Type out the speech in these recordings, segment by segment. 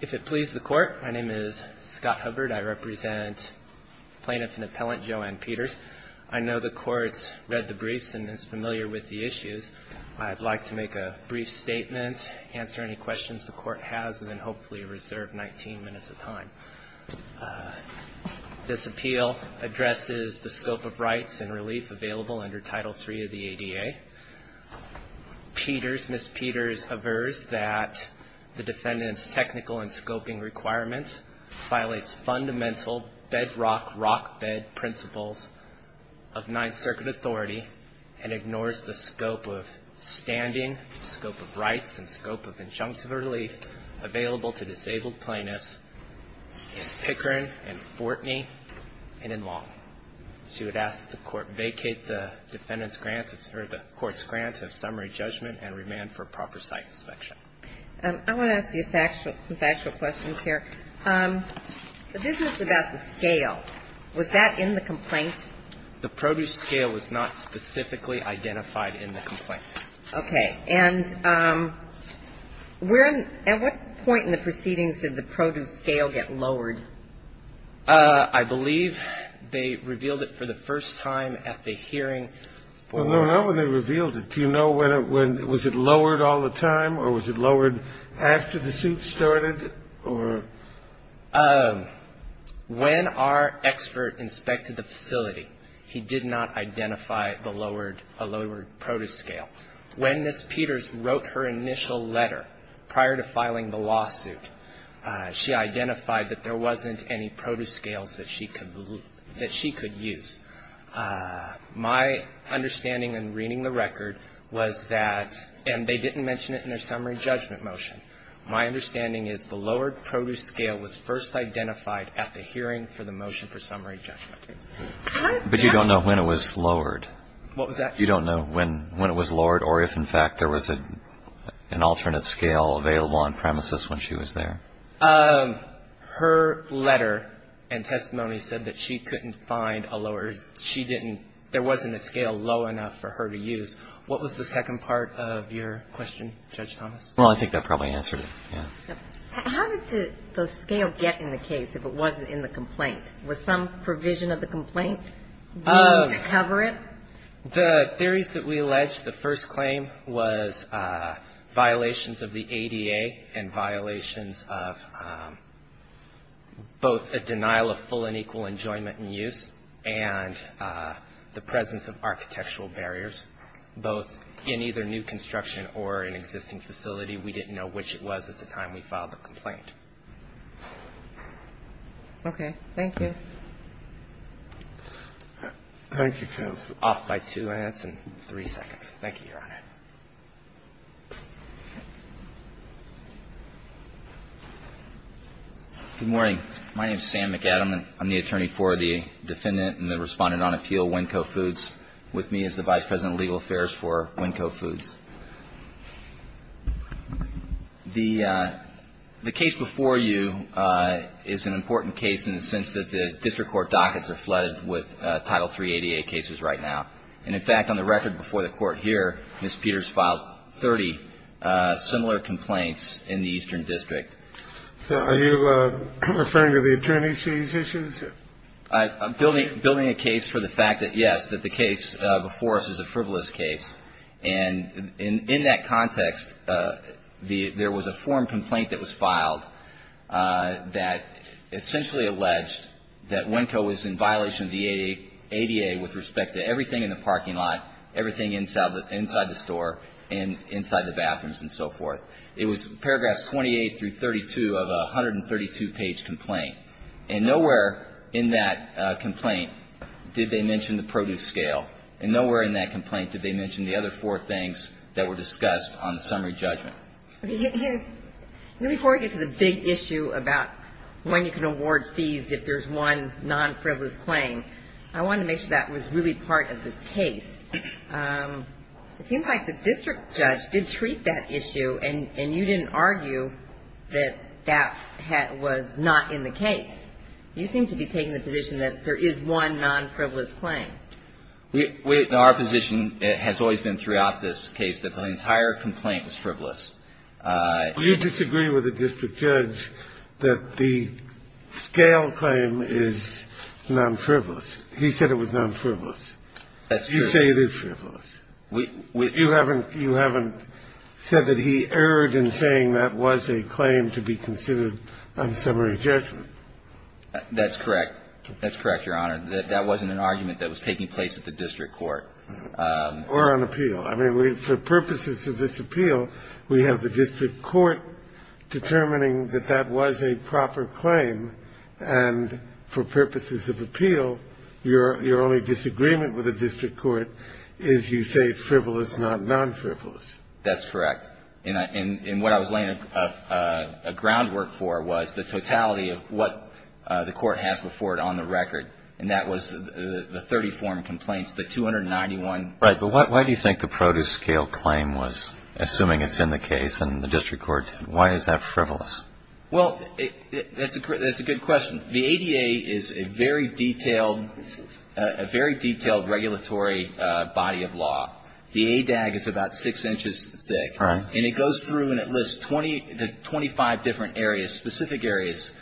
If it pleases the Court, my name is Scott Hubbard. I represent plaintiff and appellant Joanne Peters. I know the Court's read the briefs and is familiar with the issues. I'd like to make a brief statement, answer any questions the Court has, and then hopefully reserve 19 minutes of time. This appeal addresses the scope of rights and relief available under Title III of the ADA. Peters, Ms. Peters, averts the appeal. Peters, that the defendant's technical and scoping requirements violates fundamental bedrock, rock bed principles of Ninth Circuit authority and ignores the scope of standing, scope of rights, and scope of injunctive relief available to disabled plaintiffs in Pickering and Fortney and in Long. She would ask that the Court vacate the defendant's grants or the Court's grants of summary judgment and remand for proper site inspection. I want to ask you some factual questions here. The business about the scale, was that in the complaint? The produce scale was not specifically identified in the complaint. Okay. And at what point in the proceedings did the produce scale get lowered? I believe they revealed it for the first time at the hearing. Well, not when they revealed it. Do you know when it was lowered all the time, or was it lowered after the suit started, or? When our expert inspected the facility, he did not identify the lowered produce scale. When Ms. Peters wrote her initial letter prior to filing the lawsuit, she identified that there wasn't any produce scales that she could use. My understanding in reading the record was that, and they didn't mention it in their summary judgment motion. My understanding is the lowered produce scale was first identified at the hearing for the motion for summary judgment. But you don't know when it was lowered. What was that? You don't know when it was lowered or if, in fact, there was an alternate scale available on premises when she was there. Her letter and testimony said that she couldn't find a lower, she didn't, there wasn't a scale low enough for her to use. What was the second part of your question, Judge Thomas? Well, I think that probably answered it, yeah. How did the scale get in the case if it wasn't in the complaint? Was some provision of the complaint needed to cover it? The theories that we alleged, the first claim was violations of the ADA and violations of both a denial of full and equal enjoyment and use and the presence of architectural barriers, both in either new construction or an existing facility. We didn't know which it was at the time we filed the complaint. Thank you. Thank you, counsel. Off by two minutes and three seconds. Thank you, Your Honor. Good morning. My name is Sam McAdam. I'm the attorney for the defendant and the respondent on appeal, Winco Foods. With me is the Vice President of Legal Affairs for Winco Foods. The case before you is an important case in the sense that the district court dockets are flooded with Title 388 cases right now. And in fact, on the record before the Court here, Ms. Peters filed 30 similar complaints in the Eastern District. Are you referring to the attorneys' cases? I'm building a case for the fact that, yes, that the case before us is a frivolous case. And in that context, there was a form complaint that was filed that essentially alleged that Winco was in violation of the ADA with respect to everything in the parking lot, everything inside the store and inside the bathrooms and so forth. It was paragraphs 28 through 32 of a 132-page complaint. And nowhere in that complaint did they mention the produce scale. And nowhere in that complaint did they mention the other four things that were discussed on the summary judgment. Before we get to the big issue about when you can award fees if there's one non-frivolous claim, I want to make sure that was really part of this case. It seems like the district judge did treat that issue, and you didn't argue that that was not in the case. You seem to be taking the position that there is one non-frivolous claim. Our position has always been throughout this case that the entire complaint was frivolous. Do you disagree with the district judge that the scale claim is non-frivolous? He said it was non-frivolous. That's true. You say it is frivolous. You haven't said that he erred in saying that was a claim to be considered on summary judgment. That's correct. That's correct, Your Honor. That wasn't an argument that was taking place at the district court. Or on appeal. I mean, for purposes of this appeal, we have the district court determining that that was a proper claim, and for purposes of appeal, your only disagreement with the district court is you say it's frivolous, not non-frivolous. That's correct. And what I was laying a groundwork for was the totality of what the court has before it on the record. And that was the 30 form complaints, the 291. Right. But why do you think the produce scale claim was, assuming it's in the case in the district court, why is that frivolous? Well, that's a good question. The ADA is a very detailed regulatory body of law. The ADAG is about six inches thick. And it goes through and it lists 25 different areas, specific areas,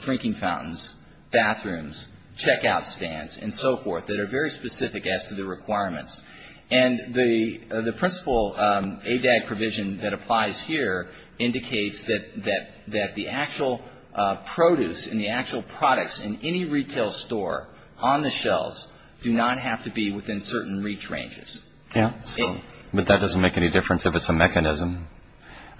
drinking fountains, bathrooms, checkout stands, and so forth, that are very specific as to the requirements. And the principle ADAG provision that applies here indicates that the actual produce and the actual products in any retail store on the shelves do not have to be within certain reach ranges. Yeah. But that doesn't make any difference if it's a mechanism.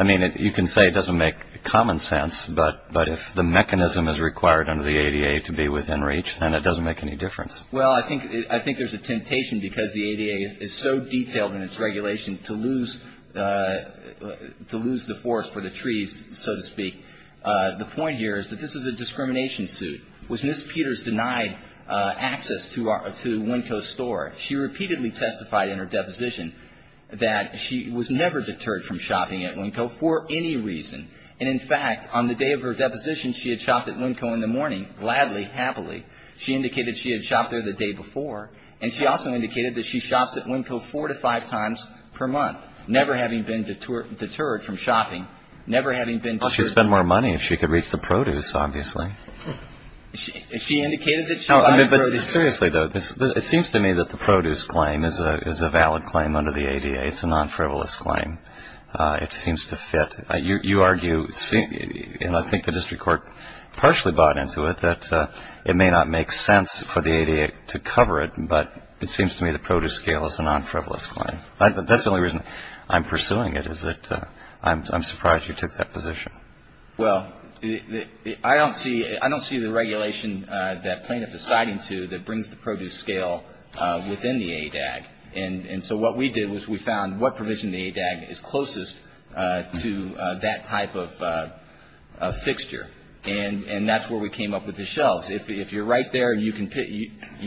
I mean, you can say it doesn't make common sense. But if the mechanism is required under the ADA to be within reach, then it doesn't make any difference. Well, I think there's a temptation because the ADA is so detailed in its regulation to lose the forest for the trees, so to speak. The point here is that this is a discrimination suit. When Ms. Peters denied access to Winco's store, she repeatedly testified in her deposition that she was never deterred from shopping at Winco for any reason. And, in fact, on the day of her deposition, she had shopped at Winco in the morning, gladly, happily. She indicated she had shopped there the day before. And she also indicated that she shops at Winco four to five times per month, never having been deterred from shopping, never having been deterred. Well, she'd spend more money if she could reach the produce, obviously. She indicated that she bought the produce. Seriously, though, it seems to me that the produce claim is a valid claim under the ADA. It's a non-frivolous claim. It seems to fit. You argue, and I think the district court partially bought into it, that it may not make sense for the ADA to cover it, but it seems to me the produce scale is a non-frivolous claim. That's the only reason I'm pursuing it, is that I'm surprised you took that position. Well, I don't see the regulation that plaintiff is citing to that brings the produce scale within the ADAG. And so what we did was we found what provision in the ADAG is closest to that type of fixture. And that's where we came up with the shelves. If you're right there, you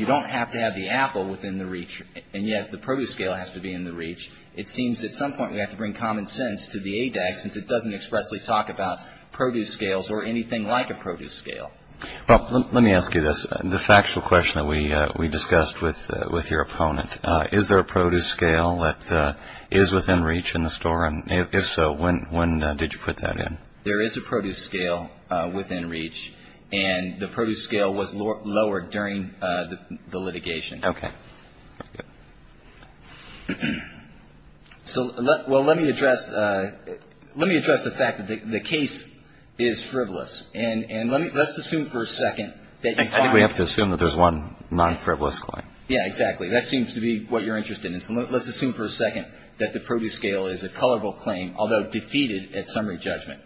don't have to have the apple within the reach, and yet the produce scale has to be in the reach. It seems at some point we have to bring common sense to the ADAG, since it doesn't expressly talk about produce scales or anything like a produce scale. Let me ask you this. The factual question that we discussed with your opponent, is there a produce scale that is within reach in the store? And if so, when did you put that in? There is a produce scale within reach, and the produce scale was lowered during the litigation. Okay. So let me address the fact that the case is frivolous. And let's assume for a second that you find. I think we have to assume that there's one non-frivolous claim. Yeah, exactly. That seems to be what you're interested in. So let's assume for a second that the produce scale is a colorable claim, although defeated at summary judgment.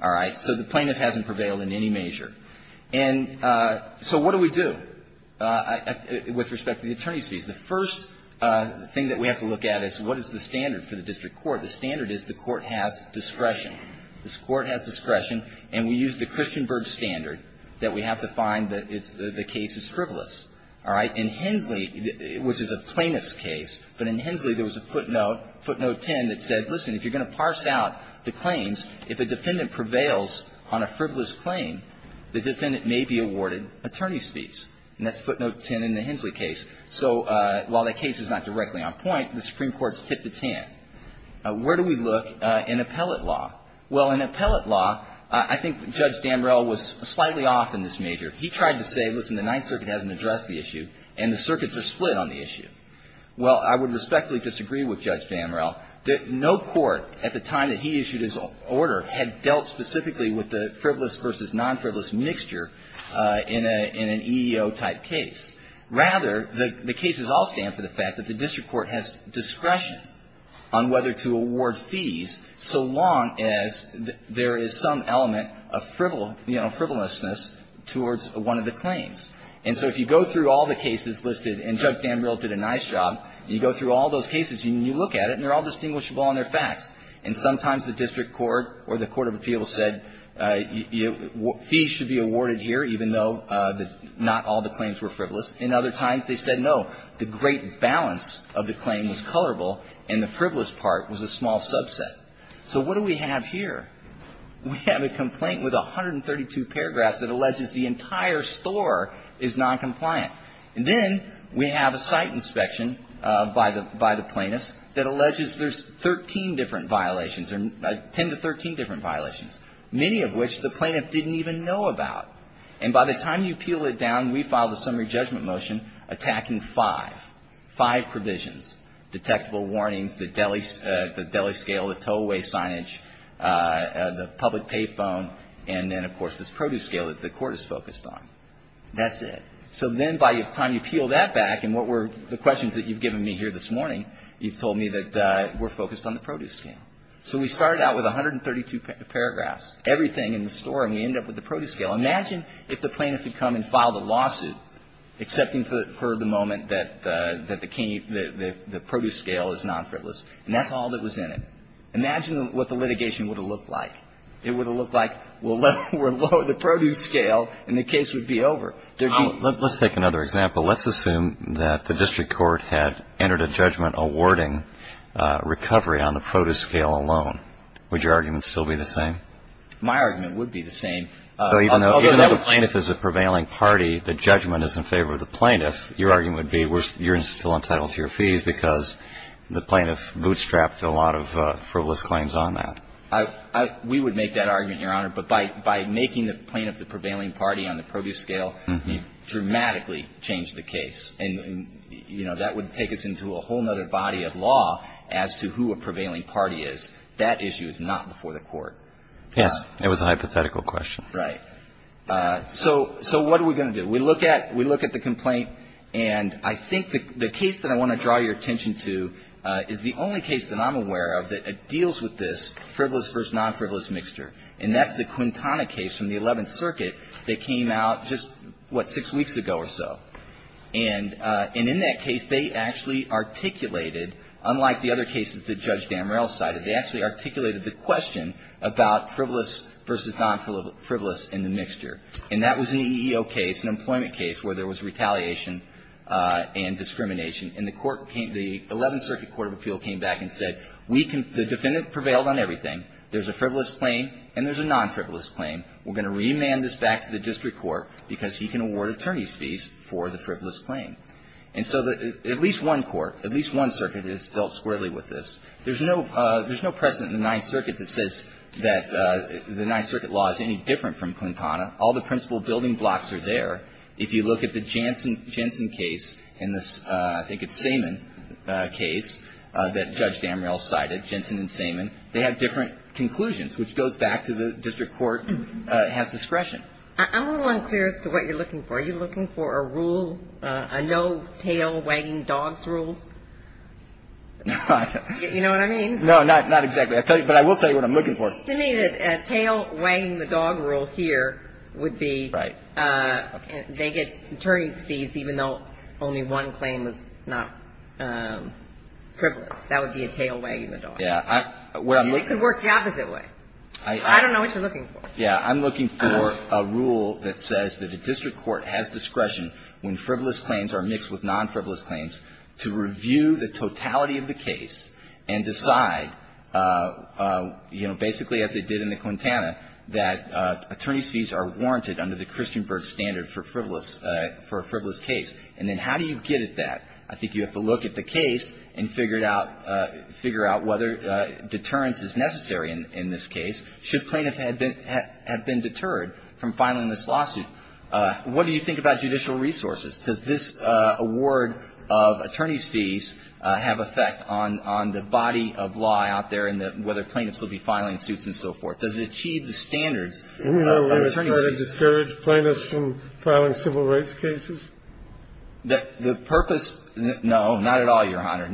All right? So the plaintiff hasn't prevailed in any measure. And so what do we do with respect to the attorney's fees? The first thing that we have to look at is what is the standard for the district court? The standard is the court has discretion. This court has discretion. And we use the Christian Berg standard that we have to find that the case is frivolous. All right? In Hensley, which is a plaintiff's case, but in Hensley there was a footnote, footnote 10, that said, listen, if you're going to parse out the claims, if a defendant prevails on a frivolous claim, the defendant may be awarded attorney's fees. And that's footnote 10 in the Hensley case. So while that case is not directly on point, the Supreme Court has tipped its hand. Where do we look in appellate law? Well, in appellate law, I think Judge Damrell was slightly off in this measure. He tried to say, listen, the Ninth Circuit hasn't addressed the issue, and the circuits are split on the issue. Well, I would respectfully disagree with Judge Damrell that no court at the time that he issued his order had dealt specifically with the frivolous versus non-frivolous mixture in an EEO-type case. Rather, the cases all stand for the fact that the district court has discretion on whether to award fees so long as there is some element of frivolousness towards one of the claims. And so if you go through all the cases listed, and Judge Damrell did a nice job, and you go through all those cases, and you look at it, and they're all distinguishable on their facts, and sometimes the district court or the court of appeals said fees should be awarded here, even though not all the claims were frivolous, and other times they said no. The great balance of the claim was colorable, and the frivolous part was a small subset. So what do we have here? We have a complaint with 132 paragraphs that alleges the entire store is noncompliant. And then we have a site inspection by the plaintiffs that alleges there's 13 different violations, 10 to 13 different violations, many of which the plaintiff didn't even know about. And by the time you peel it down, we filed a summary judgment motion attacking five, five provisions, detectable warnings, the deli scale, the tow-away signage, the public pay phone, and then, of course, this produce scale that the court is focused on. That's it. So then by the time you peel that back, and what were the questions that you've given me here this morning, you've told me that we're focused on the produce scale. So we started out with 132 paragraphs, everything in the store, and we ended up with the produce scale. Imagine if the plaintiff had come and filed a lawsuit, accepting for the moment that the produce scale is nonfrivolous, and that's all that was in it. Imagine what the litigation would have looked like. It would have looked like, well, we'll lower the produce scale, and the case would be over. Let's take another example. Let's assume that the district court had entered a judgment awarding recovery on the produce scale alone. Would your argument still be the same? My argument would be the same. Even though the plaintiff is a prevailing party, the judgment is in favor of the plaintiff. Your argument would be you're still entitled to your fees because the plaintiff bootstrapped a lot of frivolous claims on that. We would make that argument, Your Honor. But by making the plaintiff the prevailing party on the produce scale, you dramatically changed the case. And, you know, that would take us into a whole other body of law as to who a prevailing party is. That issue is not before the court. Yes, it was a hypothetical question. Right. So what are we going to do? We look at the complaint, and I think the case that I want to draw your attention to is the only case that I'm aware of that deals with this frivolous versus nonfrivolous mixture. And that's the Quintana case from the Eleventh Circuit that came out just, what, six weeks ago or so. And in that case, they actually articulated, unlike the other cases that Judge Damrell cited, they actually articulated the question about frivolous versus nonfrivolous in the mixture. And that was an EEO case, an employment case, where there was retaliation and discrimination. And the court came to the Eleventh Circuit Court of Appeal came back and said, we can The defendant prevailed on everything. There's a frivolous claim and there's a nonfrivolous claim. We're going to remand this back to the district court because he can award attorney's fees for the frivolous claim. And so at least one court, at least one circuit is dealt squarely with this. There's no precedent in the Ninth Circuit that says that the Ninth Circuit law is any different from Quintana. All the principal building blocks are there. If you look at the Jensen case and the, I think it's Saman case that Judge Damrell cited, Jensen and Saman, they have different conclusions, which goes back to the district court has discretion. I'm a little unclear as to what you're looking for. Are you looking for a rule, a no tail wagging dogs rule? You know what I mean? No, not exactly. But I will tell you what I'm looking for. To me, a tail wagging the dog rule here would be they get attorney's fees even though only one claim is not frivolous. That would be a tail wagging the dog. Yeah. It could work the opposite way. I don't know what you're looking for. Yeah. I'm looking for a rule that says that a district court has discretion when frivolous claims are mixed with non-frivolous claims to review the totality of the case and decide, you know, basically as they did in the Quintana, that attorney's fees are warranted under the Christianburg standard for frivolous, for a frivolous case. And then how do you get at that? I think you have to look at the case and figure it out, figure out whether deterrence is necessary in this case. Should plaintiff have been deterred from filing this lawsuit? What do you think about judicial resources? Does this award of attorney's fees have effect on the body of law out there and whether plaintiffs will be filing suits and so forth? Does it achieve the standards of attorney's fees? Are we trying to discourage plaintiffs from filing civil rights cases? The purpose, no, not at all, Your Honor.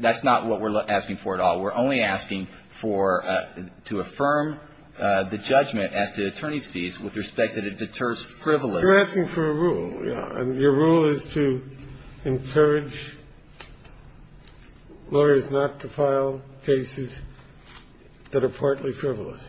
That's not what we're asking for at all. We're only asking for to affirm the judgment as to attorney's fees with respect that it deters frivolous. You're asking for a rule, yeah. Your rule is to encourage lawyers not to file cases that are partly frivolous.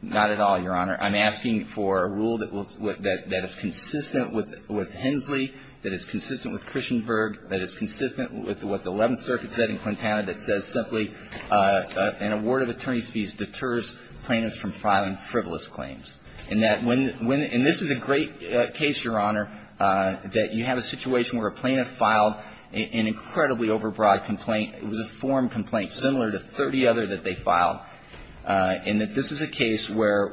Not at all, Your Honor. I'm asking for a rule that is consistent with Hensley, that is consistent with Christenberg, that is consistent with what the Eleventh Circuit said in Quintana that says simply an award of attorney's fees deters plaintiffs from filing frivolous claims. And this is a great case, Your Honor, that you have a situation where a plaintiff filed an incredibly overbroad complaint. It was a form complaint similar to 30 other that they filed. And that this is a case where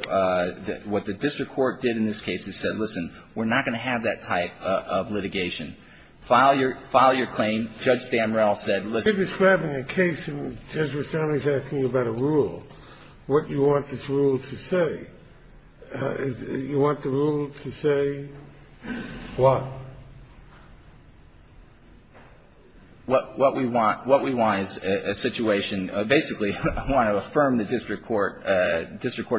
what the district court did in this case is said, listen, we're not going to have that type of litigation. File your claim. Judge Bamrel said, listen. You're describing a case and Judge Rustami is asking you about a rule. What do you want this rule to say? Do you want the rule to say what? What we want is a situation. Basically, I want to affirm the district court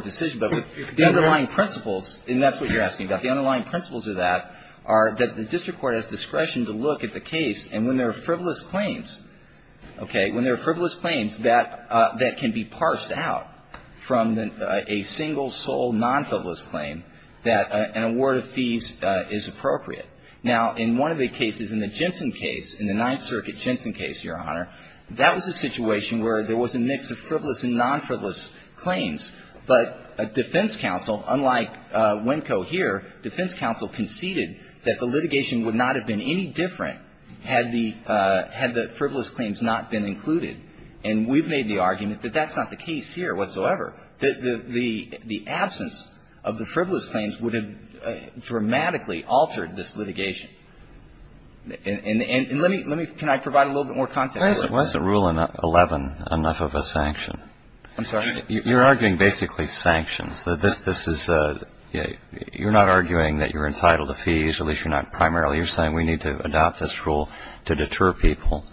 decision. But the underlying principles, and that's what you're asking about, the underlying principles of that are that the district court has discretion to look at the case and when there are frivolous claims, okay, when there are frivolous claims that can be parsed out from a single sole non-frivolous claim, that an award of fees is appropriate. Now, in one of the cases, in the Jensen case, in the Ninth Circuit Jensen case, Your Honor, there was a mix of frivolous and non-frivolous claims, but defense counsel, unlike Winco here, defense counsel conceded that the litigation would not have been any different had the frivolous claims not been included. And we've made the argument that that's not the case here whatsoever, that the absence of the frivolous claims would have dramatically altered this litigation. And let me – can I provide a little bit more context? Why isn't Rule 11 enough of a sanction? I'm sorry? You're arguing basically sanctions. This is – you're not arguing that you're entitled to fees, at least you're not primarily. You're saying we need to adopt this rule to deter people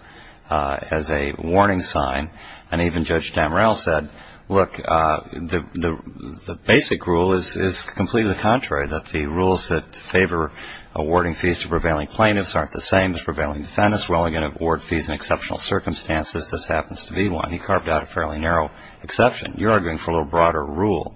as a warning sign. And even Judge Damrell said, look, the basic rule is completely the contrary, that the rules that favor awarding fees to prevailing plaintiffs aren't the same as the rules that favor other plaintiffs. You're arguing for a little broader rule,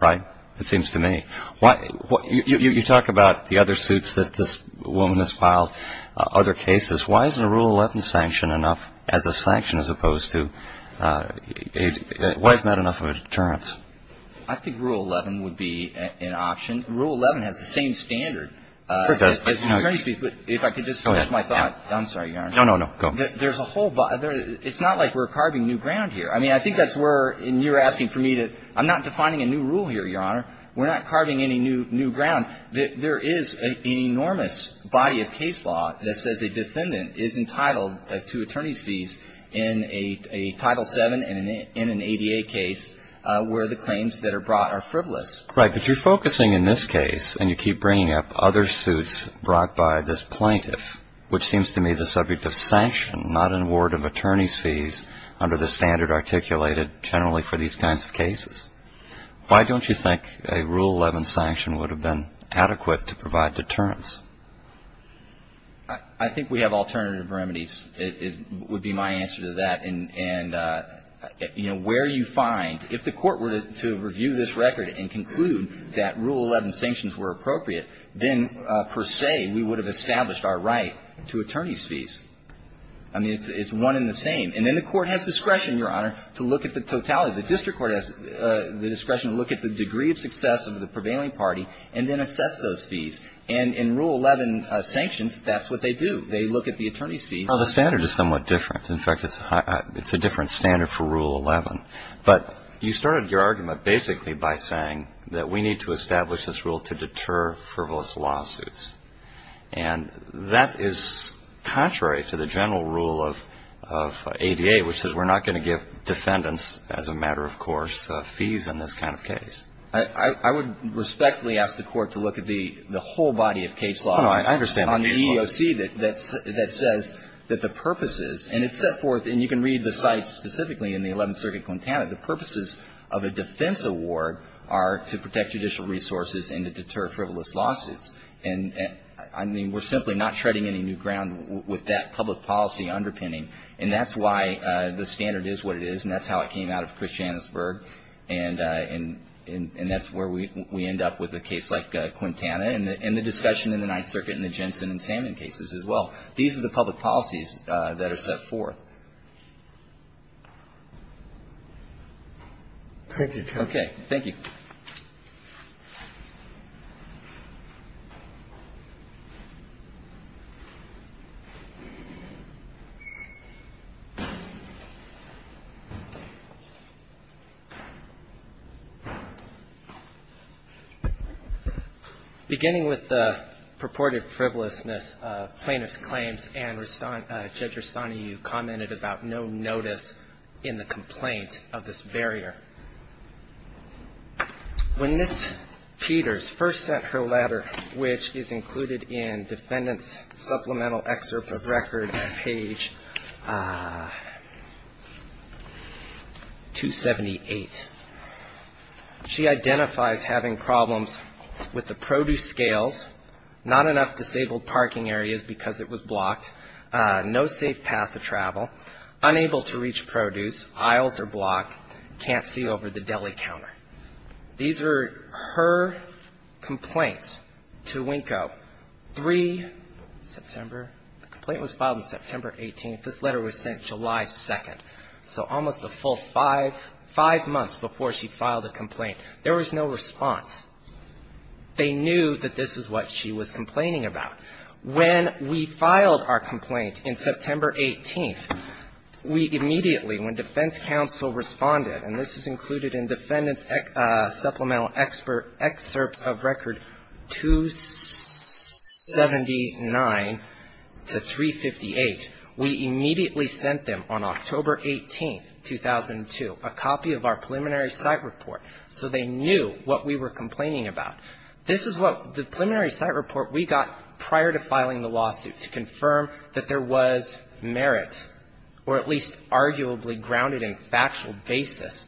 right? It seems to me. You talk about the other suits that this woman has filed, other cases. Why isn't a Rule 11 sanction enough as a sanction as opposed to a – why isn't that enough of a deterrence? I think Rule 11 would be an option. Rule 11 has the same standard. It does. If I could just finish my thought. Go ahead. I'm sorry, Your Honor. No, no, no. Go. There's a whole – it's not like we're carving new ground here. I mean, I think that's where – and you're asking for me to – I'm not defining a new rule here, Your Honor. We're not carving any new ground. There is an enormous body of case law that says a defendant is entitled to attorney's fees in a Title VII and in an ADA case where the claims that are brought are frivolous. Right. But you're focusing in this case, and you keep bringing up other suits brought by this under the standard articulated generally for these kinds of cases. Why don't you think a Rule 11 sanction would have been adequate to provide deterrence? I think we have alternative remedies would be my answer to that. And, you know, where you find – if the Court were to review this record and conclude that Rule 11 sanctions were appropriate, then per se we would have established our right to attorney's fees. I mean, it's one and the same. And then the Court has discretion, Your Honor, to look at the totality. The District Court has the discretion to look at the degree of success of the prevailing party and then assess those fees. And in Rule 11 sanctions, that's what they do. They look at the attorney's fees. Well, the standard is somewhat different. In fact, it's a different standard for Rule 11. But you started your argument basically by saying that we need to establish this rule to deter frivolous lawsuits. And that is contrary to the general rule of ADA, which says we're not going to give defendants, as a matter of course, fees in this kind of case. I would respectfully ask the Court to look at the whole body of case law on the EEOC that says that the purposes, and it's set forth, and you can read the site specifically in the Eleventh Circuit Quintana, the purposes of a defense award are to protect judicial resources and to deter frivolous lawsuits. And, I mean, we're simply not shredding any new ground with that public policy underpinning. And that's why the standard is what it is. And that's how it came out of Christianesburg. And that's where we end up with a case like Quintana and the discussion in the Ninth Circuit and the Jensen and Salmon cases as well. These are the public policies that are set forth. Thank you, Counsel. Okay. Thank you. Beginning with the purported frivolousness of plaintiff's claims and Judge Rustani, you commented about no notice in the complaint of this barrier. When Ms. Peters first sent her letter, which is included in Defendant's Supplemental Excerpt of Record, page 278, she identifies having problems with the produce scales, not enough disabled parking areas because it was blocked, no safe path to travel, unable to reach produce, aisles are blocked, can't see over the deli counter. These are her complaints to Winko. Three, September, the complaint was filed on September 18th. This letter was sent July 2nd. So almost a full five, five months before she filed a complaint, there was no response. They knew that this was what she was complaining about. When we filed our complaint in September 18th, we immediately, when defense counsel responded, and this is included in Defendant's Supplemental Excerpt of Record 279 to 358, we immediately sent them on October 18th, 2002, a copy of our preliminary site report. So they knew what we were complaining about. This is what the preliminary site report we got prior to filing the lawsuit to confirm that there was merit or at least arguably grounded in factual basis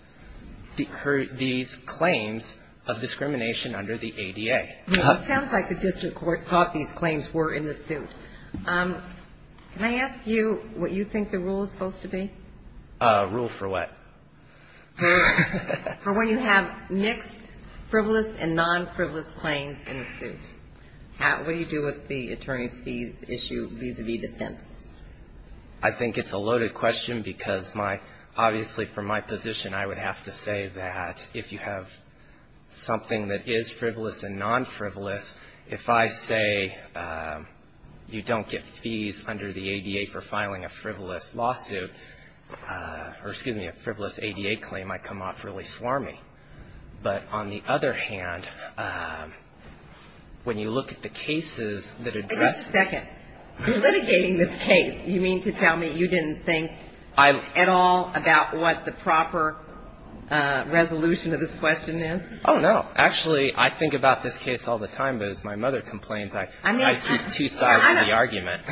for these claims of discrimination under the ADA. It sounds like the district court thought these claims were in the suit. Can I ask you what you think the rule is supposed to be? Rule for what? Rule for when you have mixed frivolous and non-frivolous claims in a suit. What do you do with the attorney's fees issue vis-à-vis defense? I think it's a loaded question because my, obviously from my position, I would have to say that if you have something that is frivolous and non-frivolous, if I say you don't get fees under the ADA for filing a frivolous lawsuit, or excuse me, a frivolous ADA claim, I come off really swarmy. But on the other hand, when you look at the cases that address. Wait a second. You're litigating this case. You mean to tell me you didn't think at all about what the proper resolution of this question is? Oh, no. Actually, I think about this case all the time, but as my mother complains, I see two sides of the argument.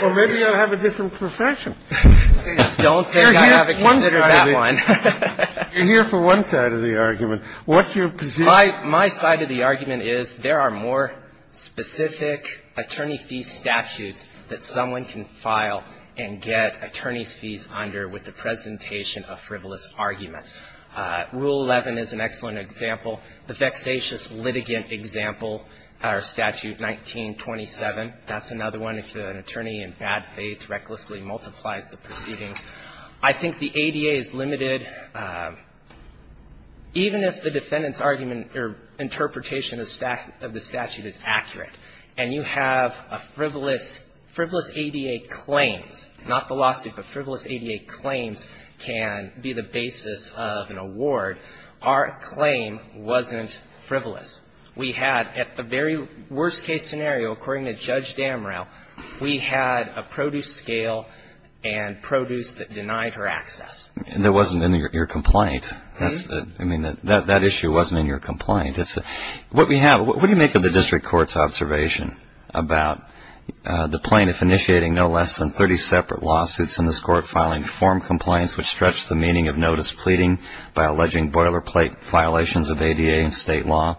Well, maybe I have a different profession. I don't think I ever considered that one. You're here for one side of the argument. What's your position? My side of the argument is there are more specific attorney fee statutes that someone can file and get attorney's fees under with the presentation of frivolous arguments. Rule 11 is an excellent example. The vexatious litigant example, our statute 1927, that's another one. If an attorney in bad faith recklessly multiplies the proceedings. I think the ADA is limited. Even if the defendant's argument or interpretation of the statute is accurate, and you have a frivolous, frivolous ADA claims, not the lawsuit, but frivolous We had, at the very worst case scenario, according to Judge Damrell, we had a produce scale and produce that denied her access. And that wasn't in your complaint. I mean, that issue wasn't in your complaint. What we have, what do you make of the district court's observation about the plaintiff initiating no less than 30 separate lawsuits in this court filing form compliance which stretch the meaning of notice pleading by the ADA and state law.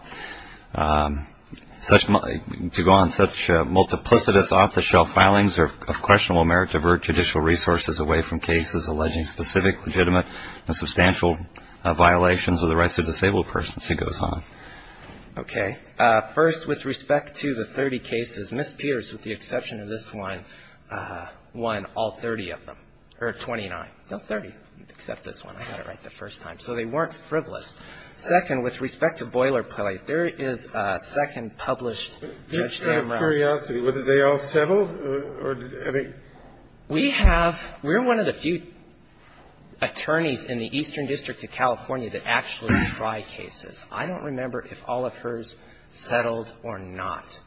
To go on, such multiplicitous off the shelf filings are of questionable merit to divert judicial resources away from cases alleging specific legitimate and substantial violations of the rights of disabled persons. It goes on. Okay. First, with respect to the 30 cases, Ms. Pierce, with the exception of this one, won all 30 of them. Or 29. No, 30, except this one. I got it right the first time. So they weren't frivolous. Second, with respect to Boilerplate, there is a second published, Judge Damrell. Just out of curiosity, were they all settled? We have, we're one of the few attorneys in the Eastern District of California that actually try cases. I don't remember if all of hers settled or not.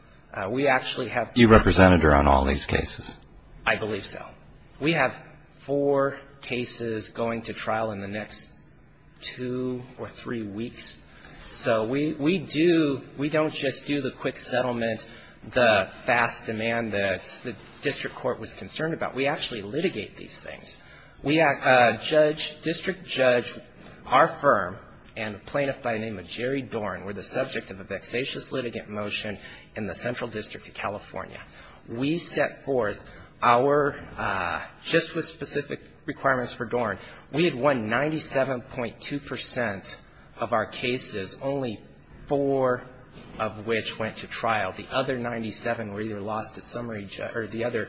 We actually have. You represented her on all these cases. I believe so. We have four cases going to trial in the next two or three weeks. So we do, we don't just do the quick settlement, the fast demand that the district court was concerned about. We actually litigate these things. We have a judge, district judge, our firm, and a plaintiff by the name of Jerry Dorn were the subject of a vexatious litigant motion in the Central District of California. We set forth our, just with specific requirements for Dorn, we had won 97.2% of our cases, only four of which went to trial. The other 97 were either lost at summary, or the other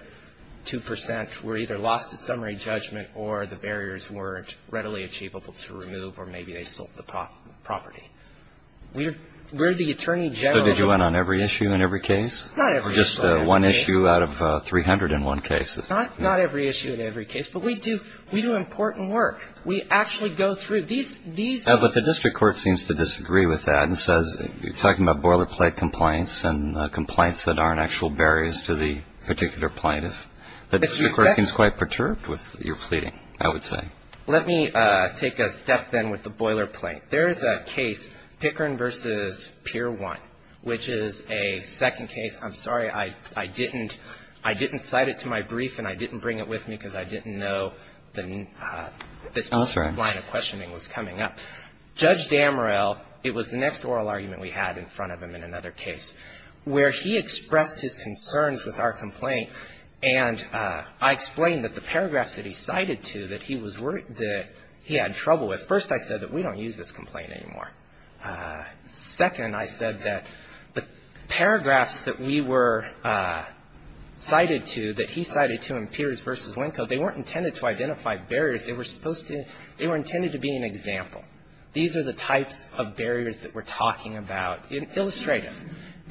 2% were either lost at summary judgment or the barriers weren't readily achievable to remove or maybe they sold the property. We're the attorney general. So did you win on every issue and every case? Not every issue and every case. Or just one issue out of 300 in one case. Not every issue and every case. But we do, we do important work. We actually go through these, these. But the district court seems to disagree with that and says, you're talking about boilerplate complaints and complaints that aren't actual barriers to the particular plaintiff. The district court seems quite perturbed with your pleading, I would say. Let me take a step then with the boilerplate. There is a case, Pickering v. Pier 1, which is a second case. I'm sorry. I didn't cite it to my brief and I didn't bring it with me because I didn't know this line of questioning was coming up. Judge Damorell, it was the next oral argument we had in front of him in another case, where he expressed his concerns with our complaint, and I explained that the paragraphs that he cited to that he was, that he had trouble with. First, I said that we don't use this complaint anymore. Second, I said that the paragraphs that we were cited to, that he cited to in Piers v. Winco, they weren't intended to identify barriers. They were supposed to, they were intended to be an example. These are the types of barriers that we're talking about in illustrative.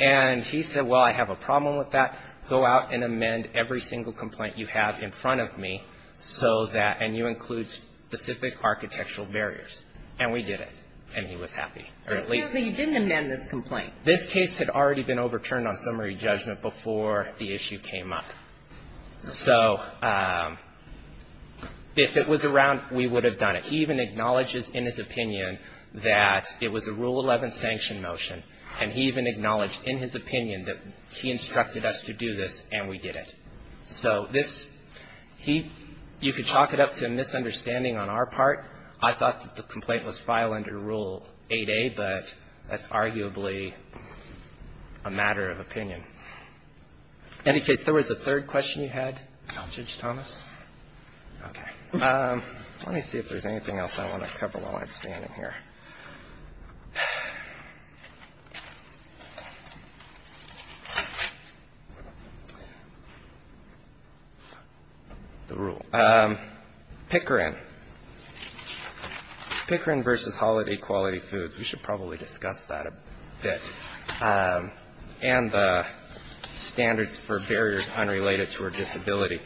And he said, well, I have a problem with that. Go out and amend every single complaint you have in front of me so that, and you include specific architectural barriers. And we did it, and he was happy, or at least. So you didn't amend this complaint. This case had already been overturned on summary judgment before the issue came up. So if it was around, we would have done it. He even acknowledges in his opinion that it was a Rule 11 sanction motion, and he even acknowledged in his opinion that he instructed us to do this, and we did it. So this, he, you could chalk it up to a misunderstanding on our part. I thought that the complaint was filed under Rule 8A, but that's arguably a matter of opinion. In any case, there was a third question you had, Judge Thomas? Okay. Let me see if there's anything else I want to cover while I'm standing here. The rule. Pickering. Pickering versus Holiday Quality Foods. We should probably discuss that a bit. And the standards for barriers unrelated to a disability.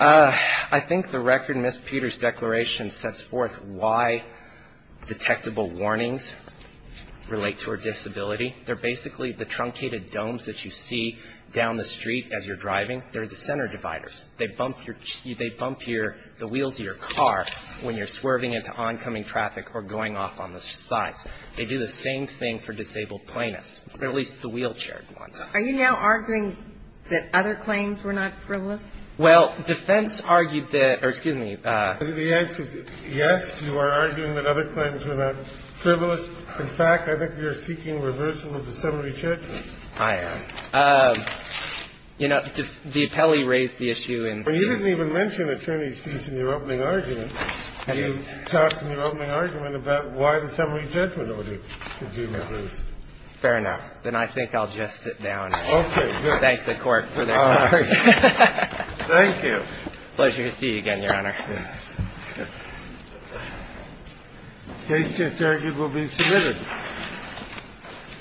I think the record in Ms. Peters' declaration sets forth why detectable warnings relate to a disability. They're basically the truncated domes that you see down the street as you're driving. They're the center dividers. They bump your, they bump your, the wheels of your car when you're swerving into oncoming traffic or going off on the sides. They do the same thing for disabled plaintiffs, or at least the wheelchaired ones. Are you now arguing that other claims were not frivolous? Well, defense argued that or, excuse me. The answer is yes, you are arguing that other claims were not frivolous. In fact, I think you're seeking reversal of the summary judgment. I am. You know, the appellee raised the issue in. Well, you didn't even mention attorney's fees in your opening argument. You talked in your opening argument about why the summary judgment order should be reversed. Fair enough. Then I think I'll just sit down. Okay. Thank the court for their time. Thank you. Pleasure to see you again, Your Honor. Yes. Case just argued will be submitted.